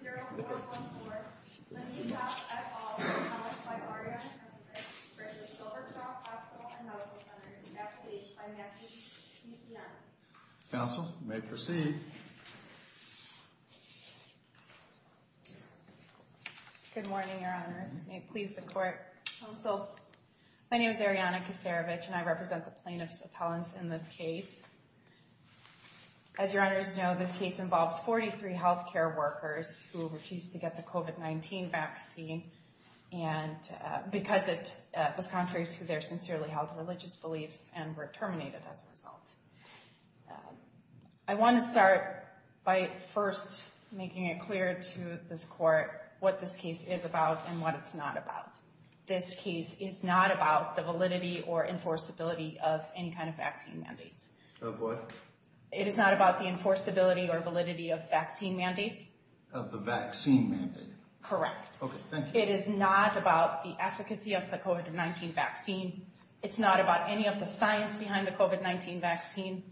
324-0414, a new health et al. was published by Arianna Kacerevich v. Silver Cross Hospital & Medical Centers, accoladed by Matthews PCM. Counsel, you may proceed. Good morning, Your Honors. May it please the Court. Counsel, my name is Arianna Kacerevich, and I represent the plaintiff's appellants in this case. As Your Honors know, this case involves 43 healthcare workers who refused to get the COVID-19 vaccine because it was contrary to their sincerely held religious beliefs and were terminated as a result. I want to start by first making it clear to this Court what this case is about and what it's not about. This case is not about the validity or enforceability of any kind of vaccine mandates. Of what? It is not about the enforceability or validity of vaccine mandates. Of the vaccine mandate? Correct. Okay, thank you. It is not about the efficacy of the COVID-19 vaccine. It's not about any of the science behind the COVID-19 vaccine.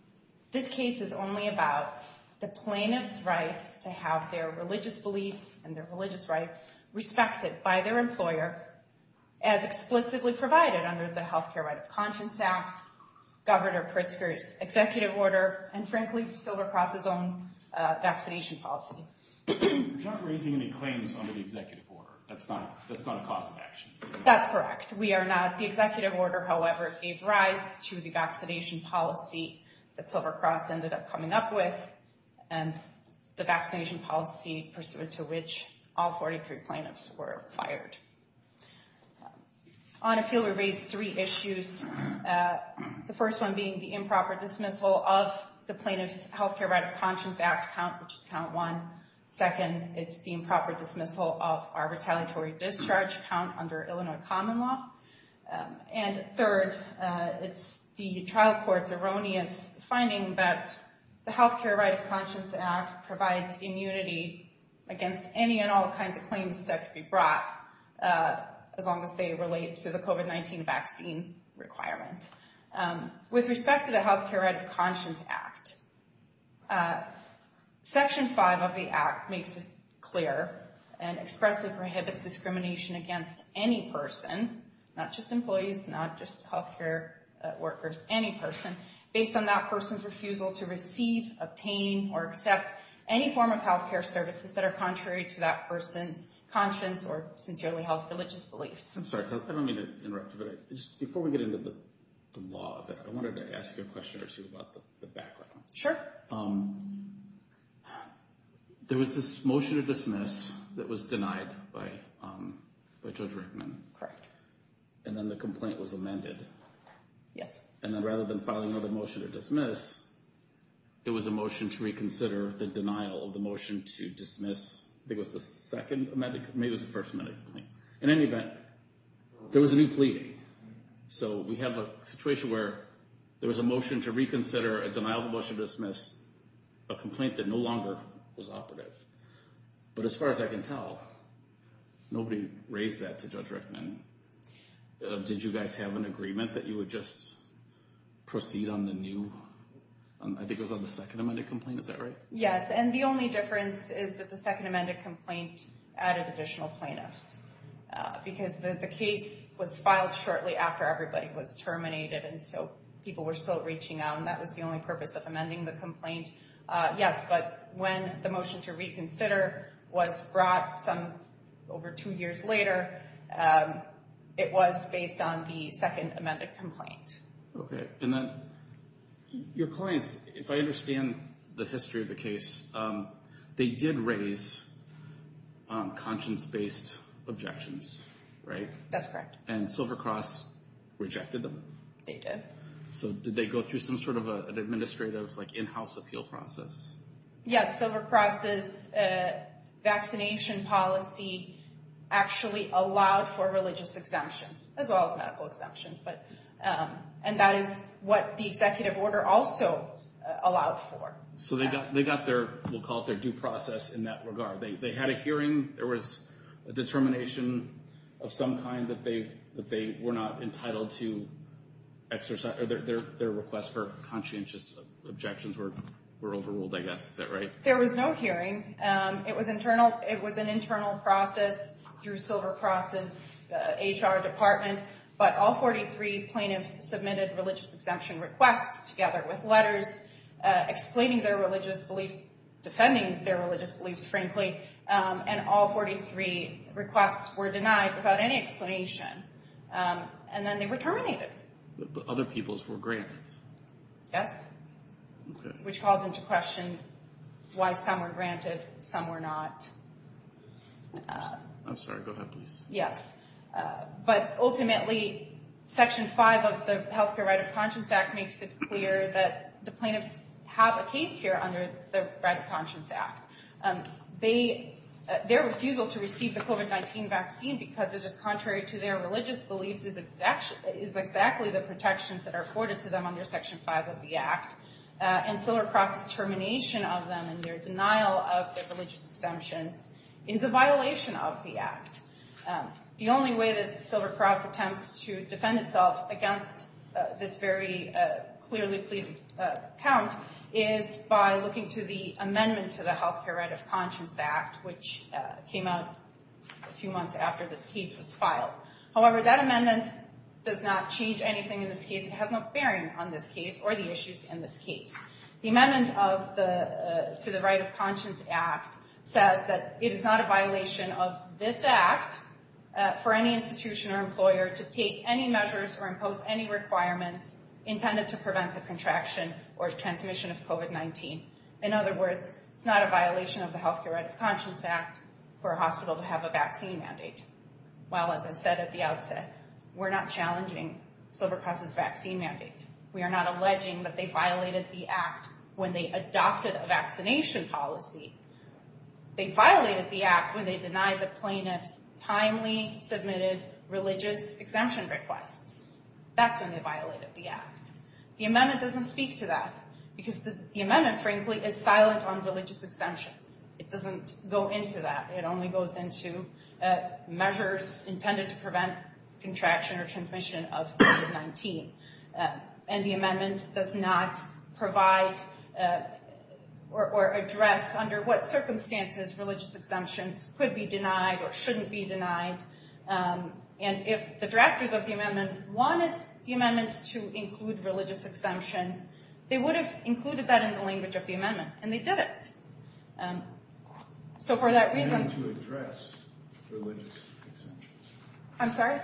This case is only about the plaintiff's right to have their religious beliefs and their religious rights respected by their employer as explicitly provided under the Healthcare Right of Conscience Act, Governor Pritzker's executive order, and frankly, Silvercross's own vaccination policy. You're not raising any claims under the executive order. That's not a cause of action. That's correct. We are not. The executive order, however, gave rise to the vaccination policy that Silvercross ended up coming up with and the vaccination policy pursuant to which all 43 plaintiffs were fired. On appeal, we raised three issues. The first one being the improper dismissal of the Plaintiff's Healthcare Right of Conscience Act count, which is count one. Second, it's the improper dismissal of our retaliatory discharge count under Illinois common law. And third, it's the trial court's erroneous finding that the Healthcare Right of Conscience Act provides immunity against any and all kinds of claims that could be brought as long as they relate to the COVID-19 vaccine requirement. With respect to the Healthcare Right of Conscience Act, Section 5 of the Act makes it clear and expressly prohibits discrimination against any person, not just employees, not just healthcare workers, any person, based on that person's refusal to receive, obtain, or accept any form of healthcare services that are contrary to that person's conscience or sincerely held religious beliefs. I'm sorry. I don't mean to interrupt you, but just before we get into the law, I wanted to ask you a question or two about the background. Sure. There was this motion to dismiss that was denied by Judge Rickman. And then the complaint was amended. Yes. And then rather than filing another motion to dismiss, there was a motion to reconsider the denial of the motion to dismiss. I think it was the second amendment, maybe it was the first amendment. In any event, there was a new plea. So we have a situation where there was a motion to reconsider a denial of the motion to dismiss, a complaint that no longer was operative. But as far as I can tell, nobody raised that to Judge Rickman. Did you guys have an agreement that you would just proceed on the new, I think it was on the second amended complaint, is that right? Yes, and the only difference is that the second amended complaint added additional plaintiffs because the case was filed shortly after everybody was terminated, and so people were still reaching out, and that was the only purpose of amending the complaint. Yes, but when the motion to reconsider was brought over two years later, it was based on the second amended complaint. Okay. And then your clients, if I understand the history of the case, they did raise conscience-based objections, right? That's correct. And Silver Cross rejected them? They did. So did they go through some sort of an administrative in-house appeal process? Yes, Silver Cross's vaccination policy actually allowed for religious exemptions, as well as medical exemptions, and that is what the executive order also allowed for. So they got their, we'll call it their due process in that regard. They had a hearing. There was a determination of some kind that they were not entitled to exercise, or their requests for conscientious objections were overruled, I guess. Is that right? There was no hearing. It was an internal process through Silver Cross's HR department, but all 43 plaintiffs submitted religious exemption requests together with letters explaining their religious beliefs, defending their religious beliefs, frankly, and all 43 requests were denied without any explanation. And then they were terminated. But other peoples were granted. Yes. Okay. Which calls into question why some were granted, some were not. I'm sorry. Go ahead, please. Yes. But ultimately, Section 5 of the Health Care Right of Conscience Act makes it clear that the plaintiffs have a case here under the Right of Conscience Act. Their refusal to receive the COVID-19 vaccine because it is contrary to their religious beliefs is exactly the protections that are afforded to them under Section 5 of the Act, and Silver Cross's termination of them and their denial of their religious exemptions is a violation of the Act. The only way that Silver Cross attempts to defend itself against this very clearly pleaded count is by looking to the amendment to the Health Care Right of Conscience Act, which came out a few months after this case was filed. However, that amendment does not change anything in this case. It has no bearing on this case or the issues in this case. The amendment to the Right of Conscience Act says that it is not a violation of this act for any institution or employer to take any measures or impose any requirements intended to prevent the contraction or transmission of COVID-19. In other words, it's not a violation of the Health Care Right of Conscience Act for a hospital to have a vaccine mandate. Well, as I said at the outset, we're not challenging Silver Cross's vaccine mandate. We are not alleging that they violated the Act when they adopted a vaccination policy. They violated the Act when they denied the plaintiffs timely submitted religious exemption requests. That's when they violated the Act. The amendment doesn't speak to that because the amendment, frankly, is silent on religious exemptions. It doesn't go into that. It only goes into measures intended to prevent contraction or transmission of COVID-19. And the amendment does not provide or address under what circumstances religious exemptions could be denied or shouldn't be denied. And if the drafters of the amendment wanted the amendment to include religious exemptions, they would have included that in the language of the amendment, and they didn't. So for that reason— You mean to address religious exemptions? I'm sorry?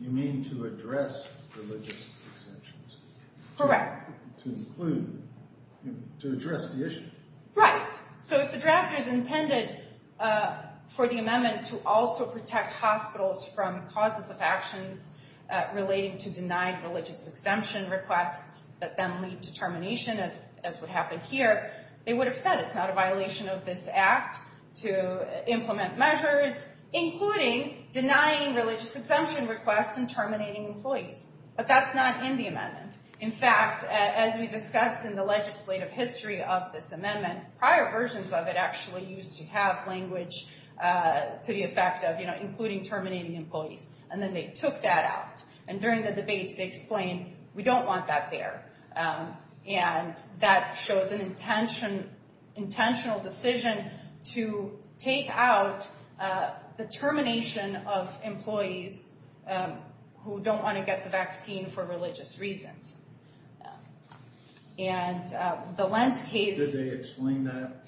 You mean to address religious exemptions? Correct. To include—to address the issue? Right. So if the drafters intended for the amendment to also protect hospitals from causes of actions relating to denied religious exemption requests that then lead to termination, as would happen here, they would have said it's not a violation of this Act to implement measures, including denying religious exemption requests and terminating employees. But that's not in the amendment. In fact, as we discussed in the legislative history of this amendment, prior versions of it actually used to have language to the effect of including terminating employees. And then they took that out. And during the debates, they explained, we don't want that there. And that shows an intentional decision to take out the termination of employees who don't want to get the vaccine for religious reasons. And the Lentz case— Did they explain that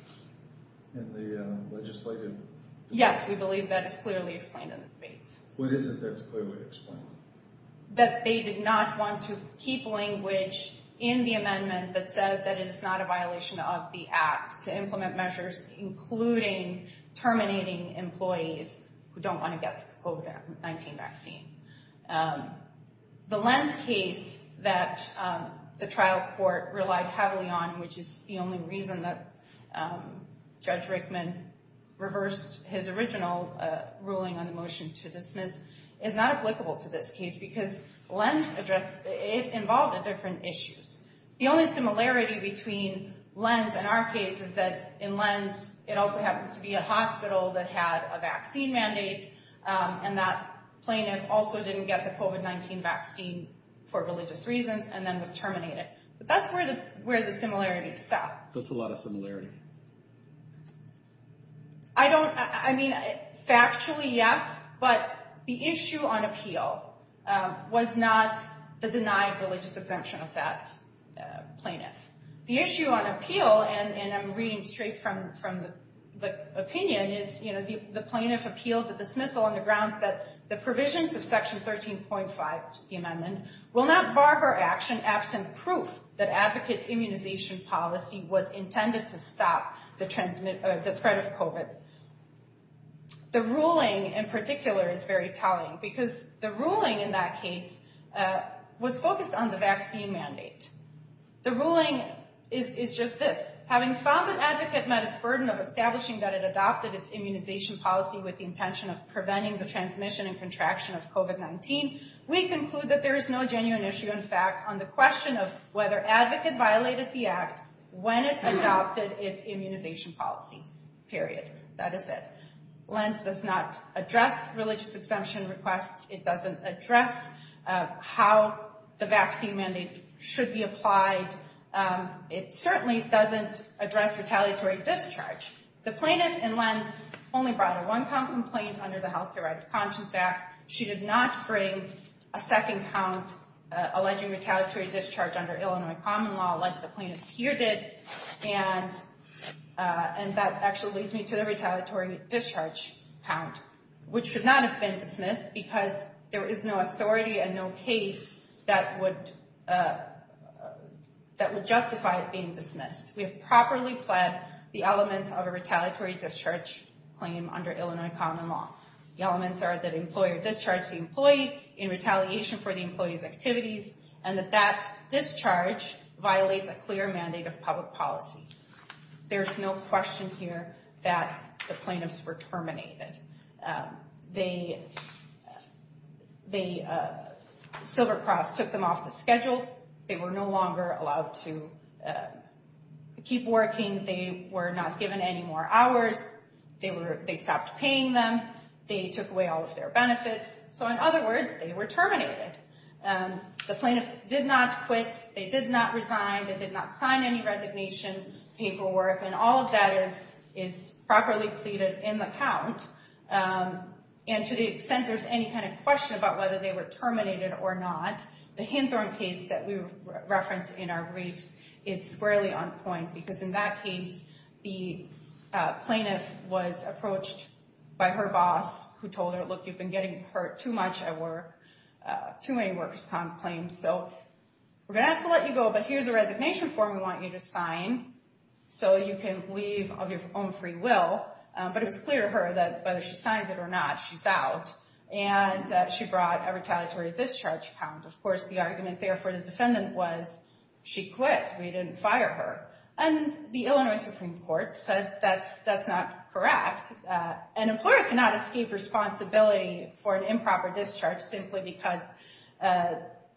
in the legislative debate? Yes, we believe that is clearly explained in the debates. What is it that's clearly explained? That they did not want to keep language in the amendment that says that it is not a violation of the Act to implement measures, including terminating employees who don't want to get the COVID-19 vaccine. The Lentz case that the trial court relied heavily on, which is the only reason that Judge Rickman reversed his original ruling on the motion to dismiss, is not applicable to this case because Lentz involved different issues. The only similarity between Lentz and our case is that in Lentz, it also happens to be a hospital that had a vaccine mandate, and that plaintiff also didn't get the COVID-19 vaccine for religious reasons, and then was terminated. But that's where the similarities stop. That's a lot of similarity. I don't—I mean, factually, yes, but the issue on appeal was not the denied religious exemption of that plaintiff. The issue on appeal, and I'm reading straight from the opinion, is the plaintiff appealed the dismissal on the grounds that the provisions of Section 13.5, which is the amendment, will not bar her action absent proof that advocates' immunization policy was intended to stop the spread of COVID. The ruling, in particular, is very telling because the ruling in that case was focused on the vaccine mandate. The ruling is just this. Having found that advocate met its burden of establishing that it adopted its immunization policy with the intention of preventing the transmission and contraction of COVID-19, we conclude that there is no genuine issue, in fact, on the question of whether advocate violated the act when it adopted its immunization policy, period. That is it. Lentz does not address religious exemption requests. It doesn't address how the vaccine mandate should be applied. It certainly doesn't address retaliatory discharge. The plaintiff in Lentz only brought a one-count complaint under the Healthcare Rights Conscience Act. In fact, she did not bring a second count alleging retaliatory discharge under Illinois common law like the plaintiffs here did, and that actually leads me to the retaliatory discharge count, which should not have been dismissed because there is no authority and no case that would justify it being dismissed. We have properly pled the elements of a retaliatory discharge claim under Illinois common law. The elements are that an employer discharged the employee in retaliation for the employee's activities and that that discharge violates a clear mandate of public policy. There's no question here that the plaintiffs were terminated. Silver Cross took them off the schedule. They were no longer allowed to keep working. They were not given any more hours. They stopped paying them. They took away all of their benefits. So, in other words, they were terminated. The plaintiffs did not quit. They did not resign. They did not sign any resignation paperwork, and all of that is properly pleaded in the count. And to the extent there's any kind of question about whether they were terminated or not, the Hinthorn case that we reference in our briefs is squarely on point because, in that case, the plaintiff was approached by her boss who told her, look, you've been getting hurt too much at work, too many workers' comp claims, so we're going to have to let you go, but here's a resignation form we want you to sign so you can leave of your own free will. But it was clear to her that whether she signs it or not, she's out. And she brought a retaliatory discharge count. Of course, the argument there for the defendant was she quit. We didn't fire her. And the Illinois Supreme Court said that's not correct. An employer cannot escape responsibility for an improper discharge simply because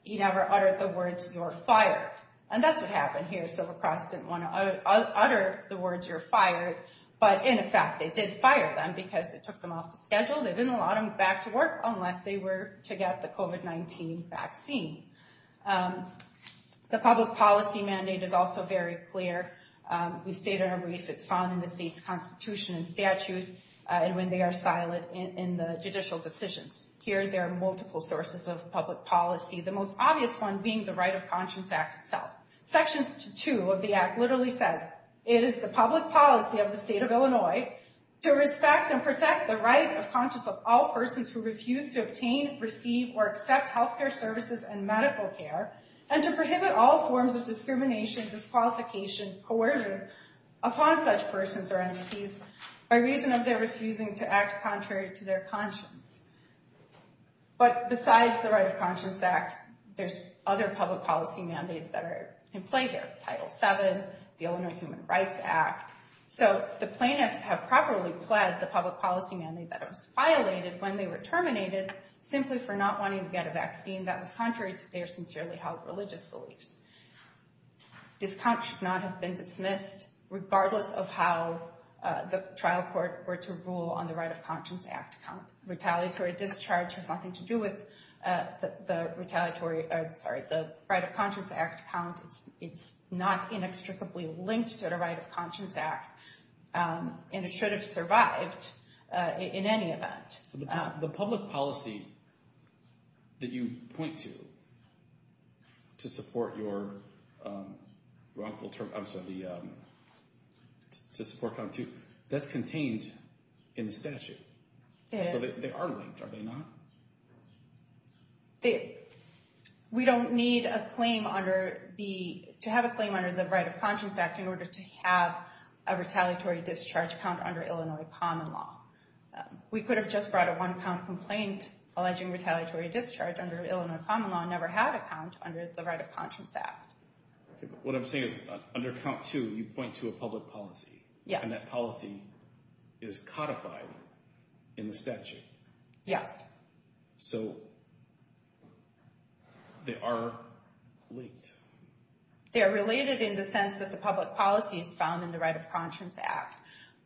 he never uttered the words, you're fired. And that's what happened here. Silver Cross didn't want to utter the words, you're fired. But, in effect, they did fire them because it took them off the schedule. They didn't allow them back to work unless they were to get the COVID-19 vaccine. The public policy mandate is also very clear. We state in our brief it's found in the state's constitution and statute and when they are silent in the judicial decisions. Here, there are multiple sources of public policy, the most obvious one being the Right of Conscience Act itself. Sections 2 of the act literally says, it is the public policy of the state of Illinois to respect and protect the right of conscience of all persons who refuse to obtain, receive, or accept healthcare services and medical care and to prohibit all forms of discrimination, disqualification, coercion upon such persons or entities by reason of their refusing to act contrary to their conscience. But, besides the Right of Conscience Act, there's other public policy mandates that are in play here. Title VII, the Illinois Human Rights Act. So, the plaintiffs have properly pled the public policy mandate that was violated when they were terminated simply for not wanting to get a vaccine that was contrary to their sincerely held religious beliefs. This count should not have been dismissed regardless of how the trial court were to rule on the Right of Conscience Act count. Retaliatory discharge has nothing to do with the Right of Conscience Act count. It's not inextricably linked to the Right of Conscience Act and it should have survived in any event. The public policy that you point to to support your wrongful term, I'm sorry, to support count two, that's contained in the statute. So, they are linked, are they not? We don't need to have a claim under the Right of Conscience Act in order to have a retaliatory discharge count under Illinois common law. We could have just brought a one count complaint alleging retaliatory discharge under Illinois common law and never had a count under the Right of Conscience Act. What I'm saying is, under count two, you point to a public policy. Yes. And that policy is codified in the statute. Yes. So, they are linked. They are related in the sense that the public policy is found in the Right of Conscience Act.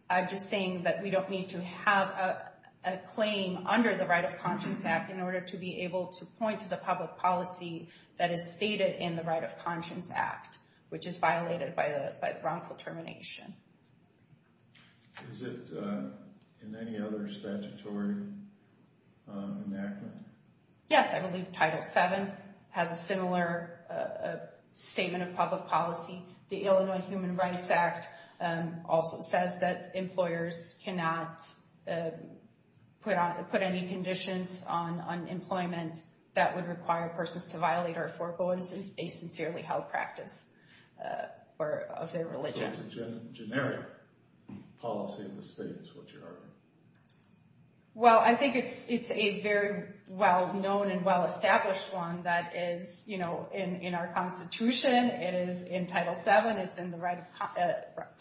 I'm just saying that we don't need to have a claim under the Right of Conscience Act in order to be able to point to the public policy that is stated in the Right of Conscience Act, which is violated by wrongful termination. Is it in any other statutory enactment? Yes, I believe Title VII has a similar statement of public policy. The Illinois Human Rights Act also says that employers cannot put any conditions on employment that would require persons to violate or forego a sincerely held practice of their religion. So, it's a generic policy in the state is what you're arguing. Well, I think it's a very well-known and well-established one that is in our Constitution. It is in Title VII. It's in the Right of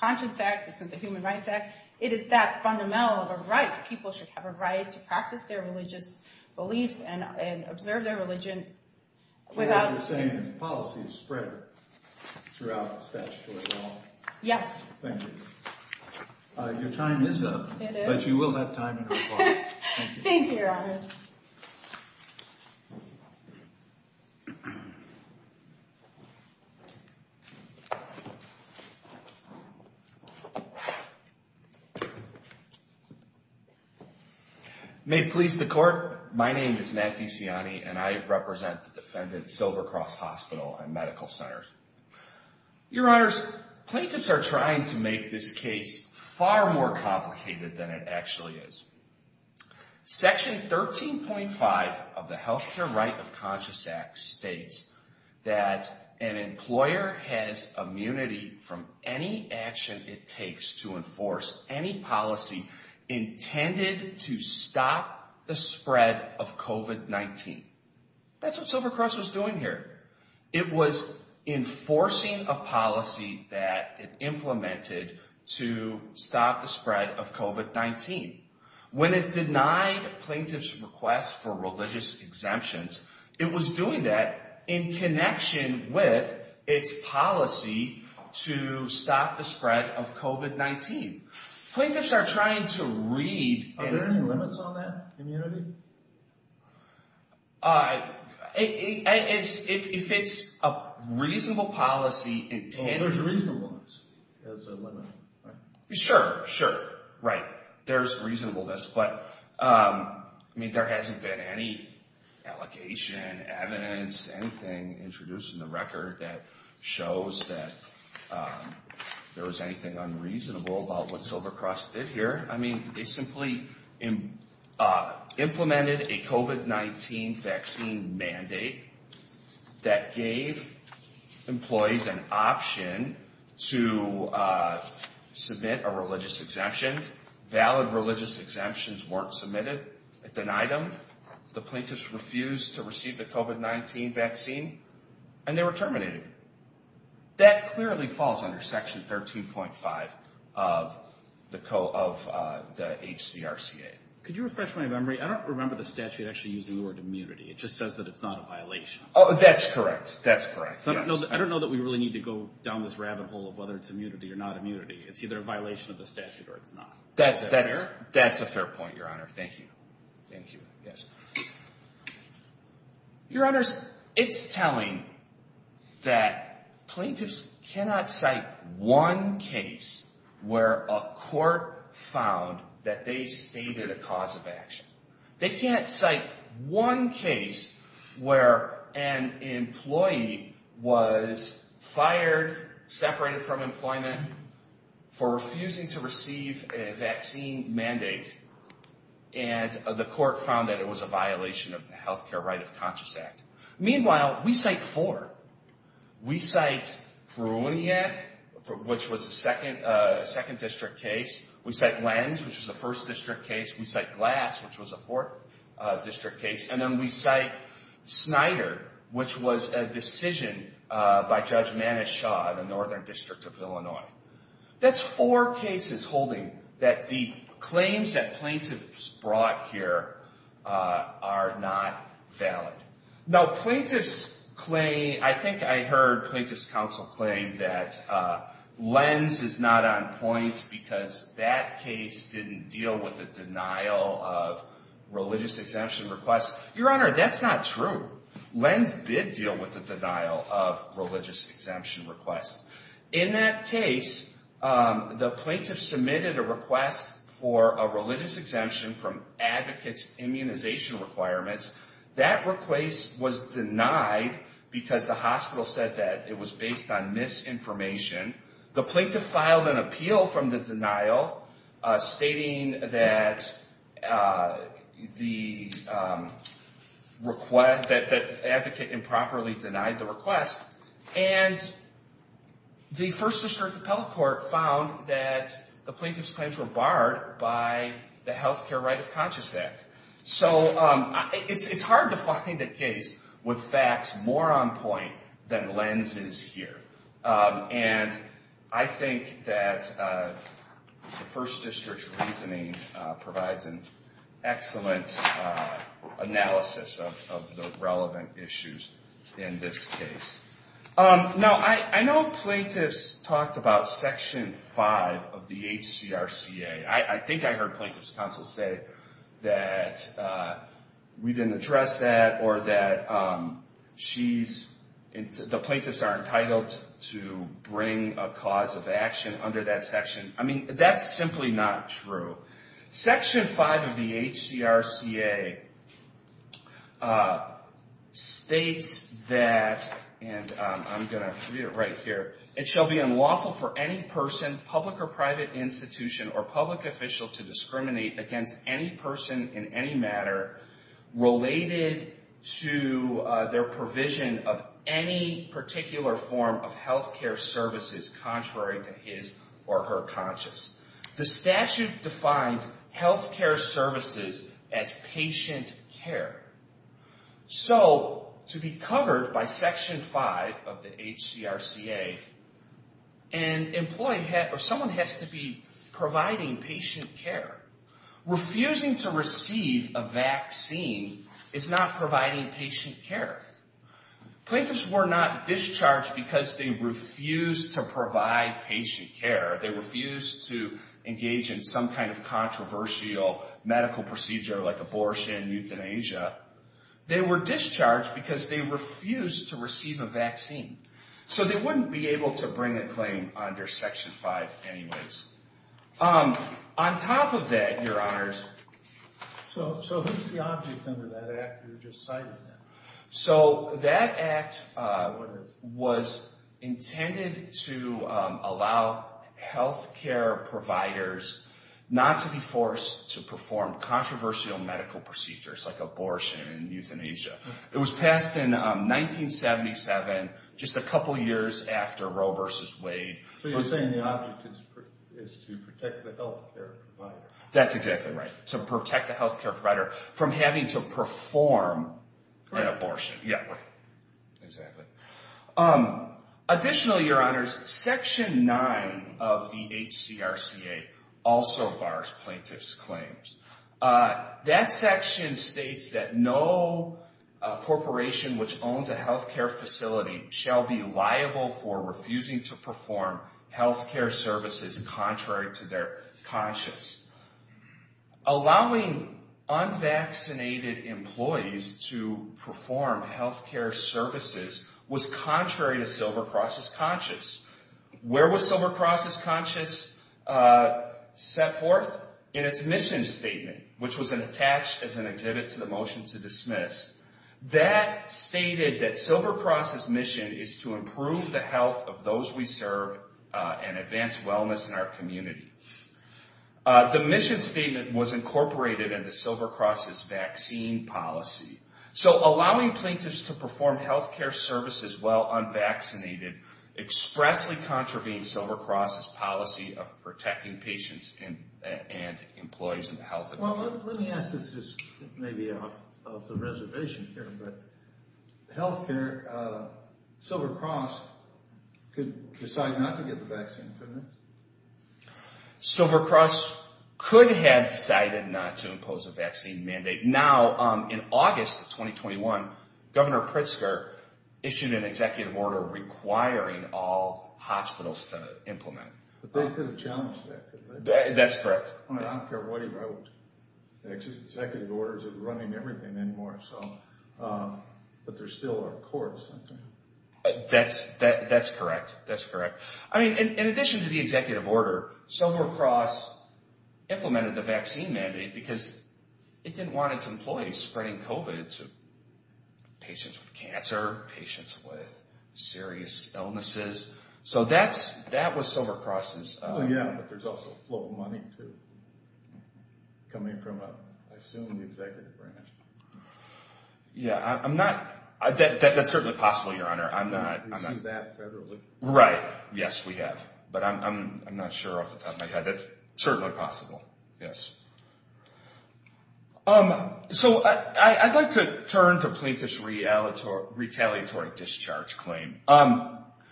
Conscience Act. It's in the Human Rights Act. It is that fundamental of a right. People should have a right to practice their religious beliefs and observe their religion without... So, what you're saying is policy is spread throughout statutory law. Yes. Thank you. Your time is up. But you will have time in court. Thank you, Your Honors. May it please the Court, my name is Matt DeCiani and I represent the defendant, Silver Cross Hospital and Medical Centers. Your Honors, plaintiffs are trying to make this case far more complicated than it actually is. Section 13.5 of the Health Care Right of Conscience Act states that an employer has immunity from any action it takes to enforce any policy intended to stop the spread of COVID-19. That's what Silver Cross was doing here. It was enforcing a policy that it implemented to stop the spread of COVID-19. When it denied plaintiffs' request for religious exemptions, it was doing that in connection with its policy to stop the spread of COVID-19. Plaintiffs are trying to read... Are there any limits on that immunity? If it's a reasonable policy... Oh, there's reasonableness as a limit, right? Sure, sure, right. There's reasonableness. But, I mean, there hasn't been any allocation, evidence, anything introduced in the record that shows that there was anything unreasonable about what Silver Cross did here. I mean, they simply implemented a COVID-19 vaccine mandate that gave employees an option to submit a religious exemption. Valid religious exemptions weren't submitted. It denied them. The plaintiffs refused to receive the COVID-19 vaccine. And they were terminated. That clearly falls under Section 13.5 of the HCRCA. Could you refresh my memory? I don't remember the statute actually using the word immunity. It just says that it's not a violation. Oh, that's correct. That's correct, yes. I don't know that we really need to go down this rabbit hole of whether it's immunity or not immunity. It's either a violation of the statute or it's not. That's a fair point, Your Honor. Thank you. Thank you, yes. Your Honors, it's telling that plaintiffs cannot cite one case where a court found that they stated a cause of action. They can't cite one case where an employee was fired, separated from employment for refusing to receive a vaccine mandate, and the court found that it was a violation of the Healthcare Right of Conscious Act. Meanwhile, we cite four. We cite Pruniak, which was a second district case. We cite Lenz, which was a first district case. We cite Glass, which was a fourth district case. And then we cite Snyder, which was a decision by Judge Manish Shah, the Northern District of Illinois. That's four cases holding that the claims that plaintiffs brought here are not valid. Now, plaintiffs claim, I think I heard plaintiffs' counsel claim that Lenz is not on point because that case didn't deal with the denial of religious exemption requests. Your Honor, that's not true. Lenz did deal with the denial of religious exemption requests. In that case, the plaintiff submitted a request for a religious exemption from advocates' immunization requirements. That request was denied because the hospital said that it was based on misinformation. The plaintiff filed an appeal from the denial stating that the advocate improperly denied the request. And the First District Appellate Court found that the plaintiff's claims were barred by the Healthcare Right of Conscience Act. So it's hard to find a case with facts more on point than Lenz is here. And I think that the First District's reasoning provides an excellent analysis of the relevant issues in this case. Now, I know plaintiffs talked about Section 5 of the HCRCA. I think I heard plaintiffs' counsel say that we didn't address that or that the plaintiffs are entitled to bring a cause of action under that section. I mean, that's simply not true. Section 5 of the HCRCA states that, and I'm going to read it right here, it shall be unlawful for any person, public or private institution, or public official to discriminate against any person in any matter related to their provision of any particular form of healthcare services contrary to his or her conscience. The statute defines healthcare services as patient care. So to be covered by Section 5 of the HCRCA, an employee or someone has to be providing patient care. Refusing to receive a vaccine is not providing patient care. Plaintiffs were not discharged because they refused to provide patient care. They refused to engage in some kind of controversial medical procedure like abortion, euthanasia. They were discharged because they refused to receive a vaccine. So they wouldn't be able to bring a claim under Section 5 anyways. On top of that, Your Honors, so who's the object under that act you just cited? So that act was intended to allow healthcare providers not to be forced to perform controversial medical procedures like abortion and euthanasia. It was passed in 1977, just a couple years after Roe v. Wade. So you're saying the object is to protect the healthcare provider. That's exactly right. To protect the healthcare provider from having to perform an abortion. Additionally, Your Honors, Section 9 of the HCRCA also bars plaintiffs' claims. That section states that no corporation which owns a healthcare facility shall be liable for refusing to perform healthcare services contrary to their conscience. Allowing unvaccinated employees to perform healthcare services was contrary to Silver Cross's conscience. Where was Silver Cross's conscience set forth? In its mission statement, which was attached as an exhibit to the motion to dismiss. That stated that Silver Cross's mission is to improve the health of those we serve and advance wellness in our community. The mission statement was incorporated into Silver Cross's vaccine policy. So allowing plaintiffs to perform healthcare services while unvaccinated expressly contravenes Silver Cross's policy of protecting patients and employees and the health of the community. Well, let me ask this just maybe off the reservation here. Silver Cross could decide not to get the vaccine, couldn't it? Silver Cross could have decided not to impose a vaccine mandate. Now, in August of 2021, Governor Pritzker issued an executive order requiring all hospitals to implement. But they could have challenged that, couldn't they? That's correct. I don't care what he wrote. Executive orders aren't running everything anymore. But there still are courts. That's correct. That's correct. I mean, in addition to the executive order, Silver Cross implemented the vaccine mandate because it didn't want its employees spreading COVID to patients with cancer, patients with serious illnesses. So that was Silver Cross's... Yeah, but there's also flow of money too coming from, I assume, the executive branch. Yeah, that's certainly possible, Your Honor. We see that federally. Right. Yes, we have. But I'm not sure off the top of my head. That's certainly possible, yes. So I'd like to turn to plaintiff's retaliatory discharge claim.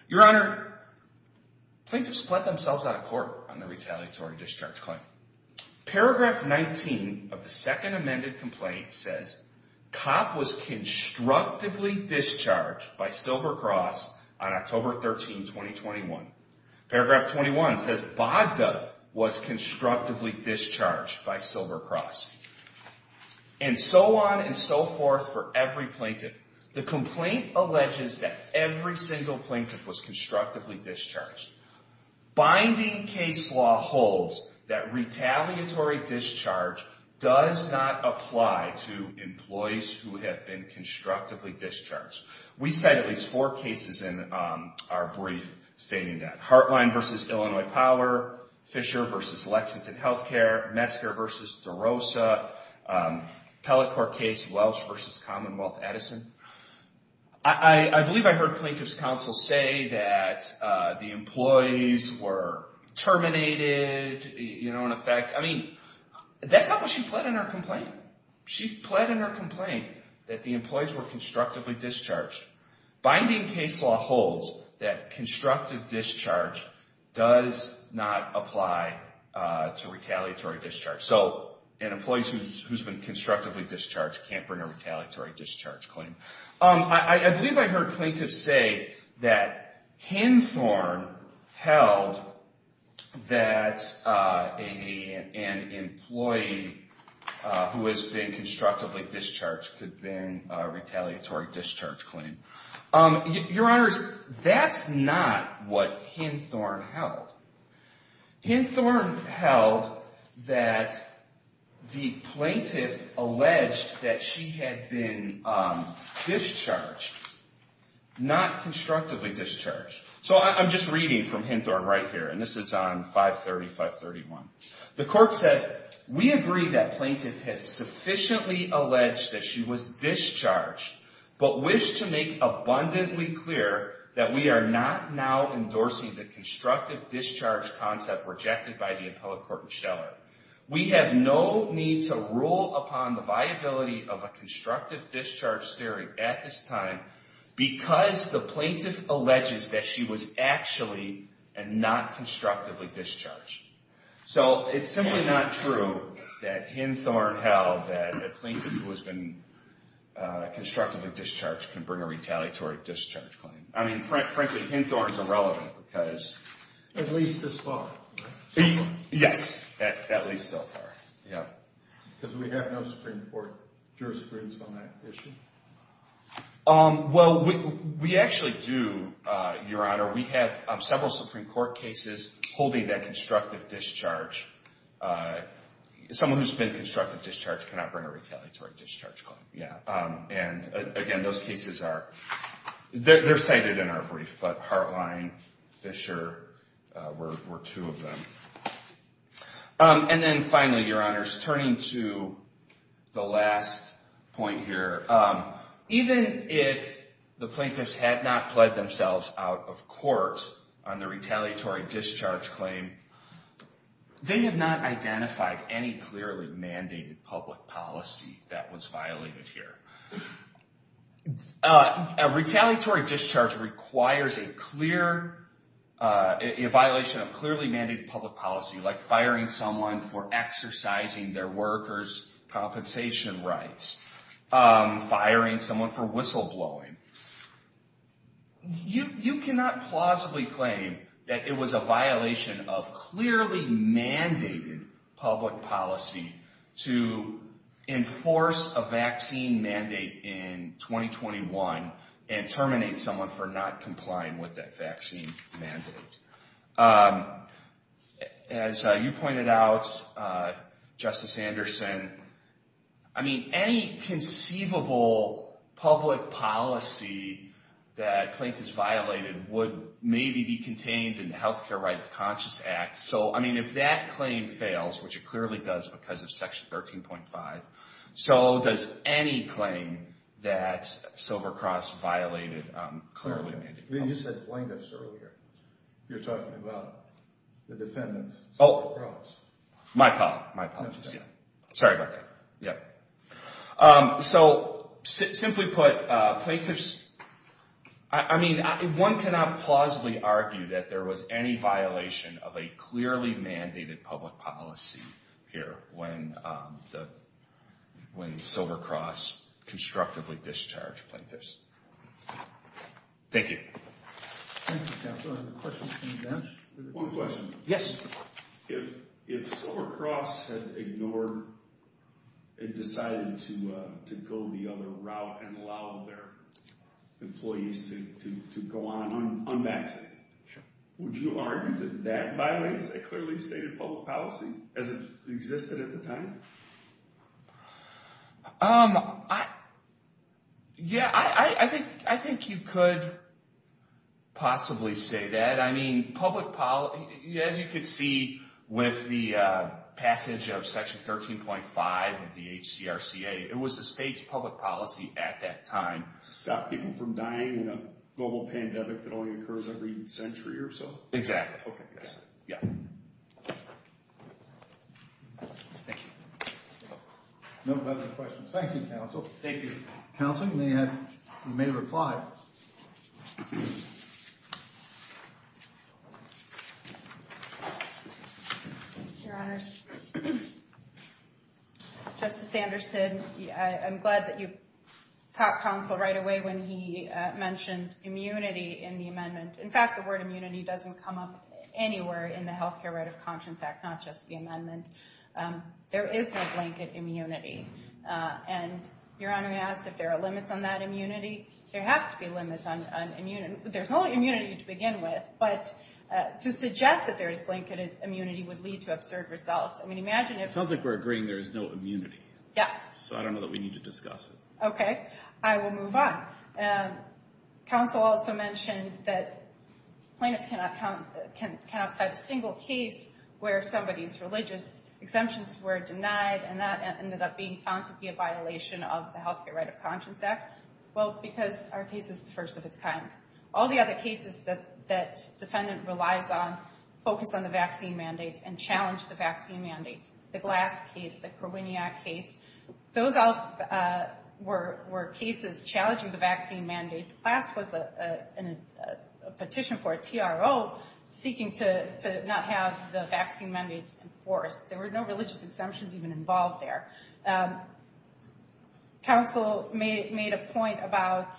Your Honor, plaintiffs split themselves out of court on the retaliatory discharge claim. Paragraph 19 of the second amended complaint says, Cop was constructively discharged by Silver Cross on October 13, 2021. Paragraph 21 says, Bogda was constructively discharged by Silver Cross. And so on and so forth for every plaintiff. The complaint alleges that every single plaintiff was constructively discharged. Binding case law holds that retaliatory discharge does not apply to employees who have been constructively discharged. We cite at least four cases in our brief stating that. Hartline v. Illinois Power, Fisher v. Lexington Health Care, Metzger v. DeRosa, Pellet Court case Welch v. Commonwealth Edison. I believe I heard plaintiff's counsel say that the employees were terminated, you know, in effect. I mean, that's not what she pled in her complaint. She pled in her complaint that the employees were constructively discharged. Binding case law holds that constructive discharge does not apply to retaliatory discharge. So an employee who's been constructively discharged can't bring a retaliatory discharge claim. I believe I heard plaintiff's say that Henthorne held that an employee who has been constructively discharged could bring a retaliatory discharge claim. Your Honors, that's not what Henthorne held. Henthorne held that the plaintiff alleged that she had been discharged, not constructively discharged. So I'm just reading from Henthorne right here, and this is on 530-531. The court said, We agree that plaintiff has sufficiently alleged that she was discharged, but wish to make abundantly clear that we are not now endorsing the constructive discharge concept rejected by the appellate court in Stellar. We have no need to rule upon the viability of a constructive discharge theory at this time because the plaintiff alleges that she was actually and not constructively discharged. So it's simply not true that Henthorne held that a plaintiff who has been constructively discharged can bring a retaliatory discharge claim. I mean, frankly, Henthorne's irrelevant because At least this far, right? Yes, at least so far, yeah. Because we have no Supreme Court jurisprudence on that issue? Well, we actually do, Your Honor. We have several Supreme Court cases holding that constructive discharge, someone who's been constructively discharged cannot bring a retaliatory discharge claim. And again, those cases are cited in our brief, but Hartline, Fisher were two of them. And then finally, Your Honors, turning to the last point here, even if the plaintiffs had not pled themselves out of court on the retaliatory discharge claim, they have not identified any clearly mandated public policy that was violated here. A retaliatory discharge requires a clear violation of clearly mandated public policy like firing someone for exercising their workers' compensation rights, firing someone for whistleblowing. You cannot plausibly claim that it was a violation of clearly mandated public policy to enforce a vaccine mandate in 2021 and terminate someone for not complying with that vaccine mandate. As you pointed out, Justice Anderson, I mean, any conceivable public policy that plaintiffs violated would maybe be contained in the Healthcare Rights Conscious Act. So, I mean, if that claim fails, which it clearly does because of Section 13.5, so does any claim that Silver Cross violated clearly mandated policy. You said plaintiffs earlier. You're talking about the defendants, Silver Cross. My apologies. Sorry about that. So, simply put, plaintiffs, I mean, one cannot plausibly argue that there was any violation of a clearly mandated public policy here when Silver Cross constructively discharged plaintiffs. Thank you. One question. If Silver Cross had ignored and decided to go the other route and allow their employees to go on unvaccinated, would you argue that that violates a clearly stated public policy as it existed at the time? Yeah, I think you could possibly say that. I mean, as you can see with the passage of Section 13.5 of the HCRCA, it was the state's public policy at that time. To stop people from dying in a global pandemic that only occurs every century or so? Exactly. Okay. Yeah. Thank you. No further questions. Thank you, counsel. Thank you. Counsel, you may reply. Your Honors. Justice Anderson, I'm glad that you caught counsel right away when he mentioned immunity in the amendment. In fact, the word immunity doesn't come up anywhere in the Health Care Right of Conscience Act, not just the amendment. There is no blanket immunity. And Your Honor asked if there are limits on that immunity. There have to be limits on immunity. There's no immunity to begin with, but to suggest that there is blanket immunity would lead to absurd results. I mean, imagine if— It sounds like we're agreeing there is no immunity. Yes. So I don't know that we need to discuss it. Okay. I will move on. Counsel also mentioned that plaintiffs cannot count outside a single case where somebody's religious exemptions were denied, and that ended up being found to be a violation of the Health Care Right of Conscience Act. Well, because our case is the first of its kind. All the other cases that defendant relies on focus on the vaccine mandates and challenge the vaccine mandates. The Glass case, the Kroenia case, those all were cases challenging the vaccine mandates. Glass was a petition for a TRO seeking to not have the vaccine mandates enforced. There were no religious exemptions even involved there. Counsel made a point about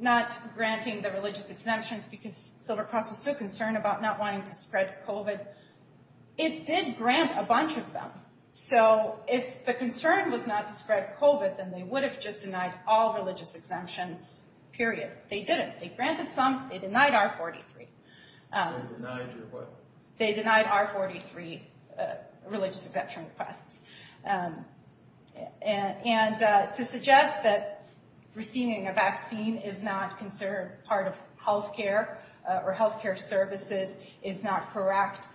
not granting the religious exemptions because Silvercross was so concerned about not wanting to spread COVID. It did grant a bunch of them. So if the concern was not to spread COVID, then they would have just denied all religious exemptions, period. They didn't. They granted some. They denied R43. They denied your what? They denied R43, religious exemption requests. And to suggest that receiving a vaccine is not considered part of health care or health care services is not correct,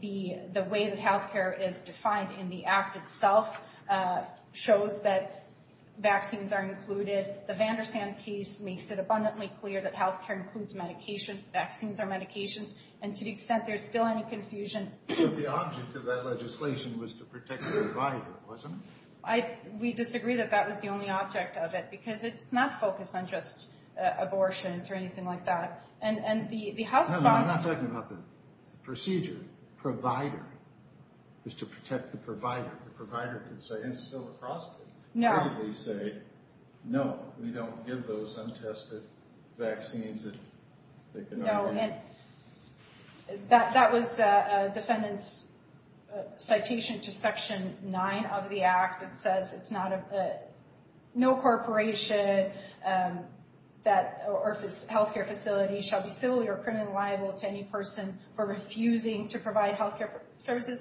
the way that health care is defined in the act itself shows that vaccines are included. The Vandersand case makes it abundantly clear that health care includes medication. Vaccines are medications. And to the extent there's still any confusion. But the object of that legislation was to protect the provider, wasn't it? We disagree that that was the only object of it because it's not focused on just abortions or anything like that. And the House... I'm not talking about the procedure. Provider is to protect the provider. The provider could say, and Silvercross could clearly say, no, we don't give those untested vaccines. No. That was a defendant's citation to Section 9 of the act. It says no corporation or health care facility shall be civilly or criminally liable to any person for refusing to provide health care services.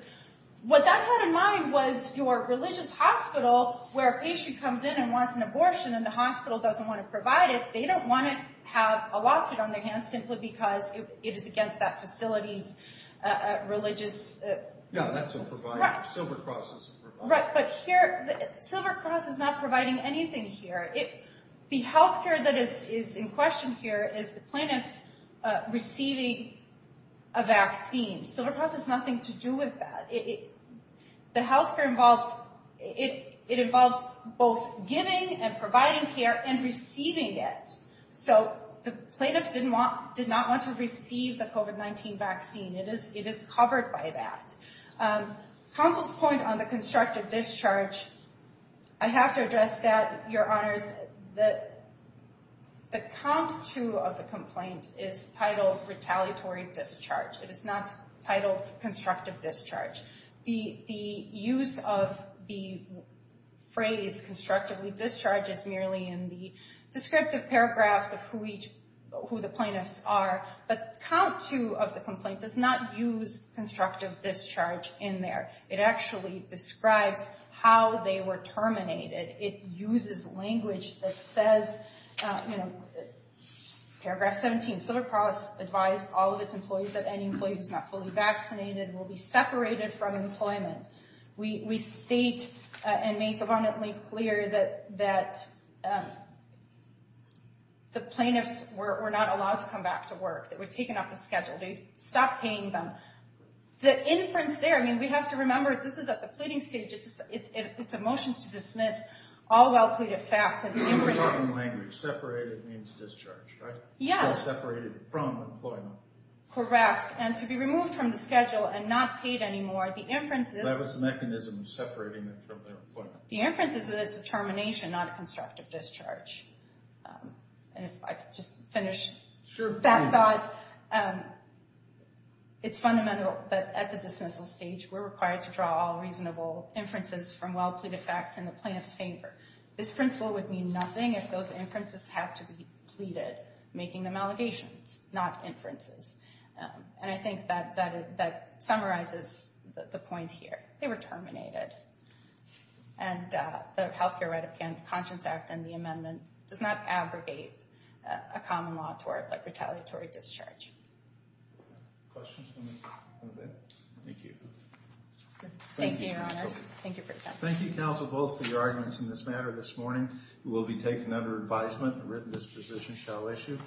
What that had in mind was your religious hospital where a patient comes in and wants an abortion and the hospital doesn't want to provide it. They don't want to have a lawsuit on their hands simply because it is against that facility's religious... Yeah, that's a provider. Silvercross is a provider. Right. But here, Silvercross is not providing anything here. The health care that is in question here is the plaintiffs receiving a vaccine. Silvercross has nothing to do with that. The health care involves... It involves both giving and providing care and receiving it. So the plaintiffs did not want to receive the COVID-19 vaccine. It is covered by that. Counsel's point on the constructive discharge, I have to address that, Your Honors. The count two of the complaint is titled retaliatory discharge. It is not titled constructive discharge. The use of the phrase constructively discharge is merely in the descriptive paragraphs of who the plaintiffs are. But count two of the complaint does not use constructive discharge in there. It actually describes how they were terminated. It uses language that says, you know, paragraph 17, Silvercross advised all of its employees that any employee who is not fully vaccinated will be separated from employment. We state and make abundantly clear that the plaintiffs were not allowed to come back to work. They were taken off the schedule. They stopped paying them. The inference there, I mean, we have to remember this is at the pleading stage. It's a motion to dismiss all well pleaded facts. Separated means discharge, right? Yes. Separated from employment. Correct. And to be removed from the schedule and not paid anymore. That was the mechanism of separating them from their employment. The inference is that it's a termination, not a constructive discharge. And if I could just finish that thought. It's fundamental that at the dismissal stage, we're required to draw all reasonable inferences from well pleaded facts in the plaintiff's favor. This principle would mean nothing if those inferences have to be pleaded, making them allegations, not inferences. And I think that summarizes the point here. They were terminated. And the Health Care Right of Conscience Act and the amendment does not abrogate a common law tort like retaliatory discharge. Questions? Thank you. Thank you, Your Honors. Thank you for your time. Thank you, counsel, both for your arguments in this matter this morning. It will be taken under advisement and written disposition shall issue.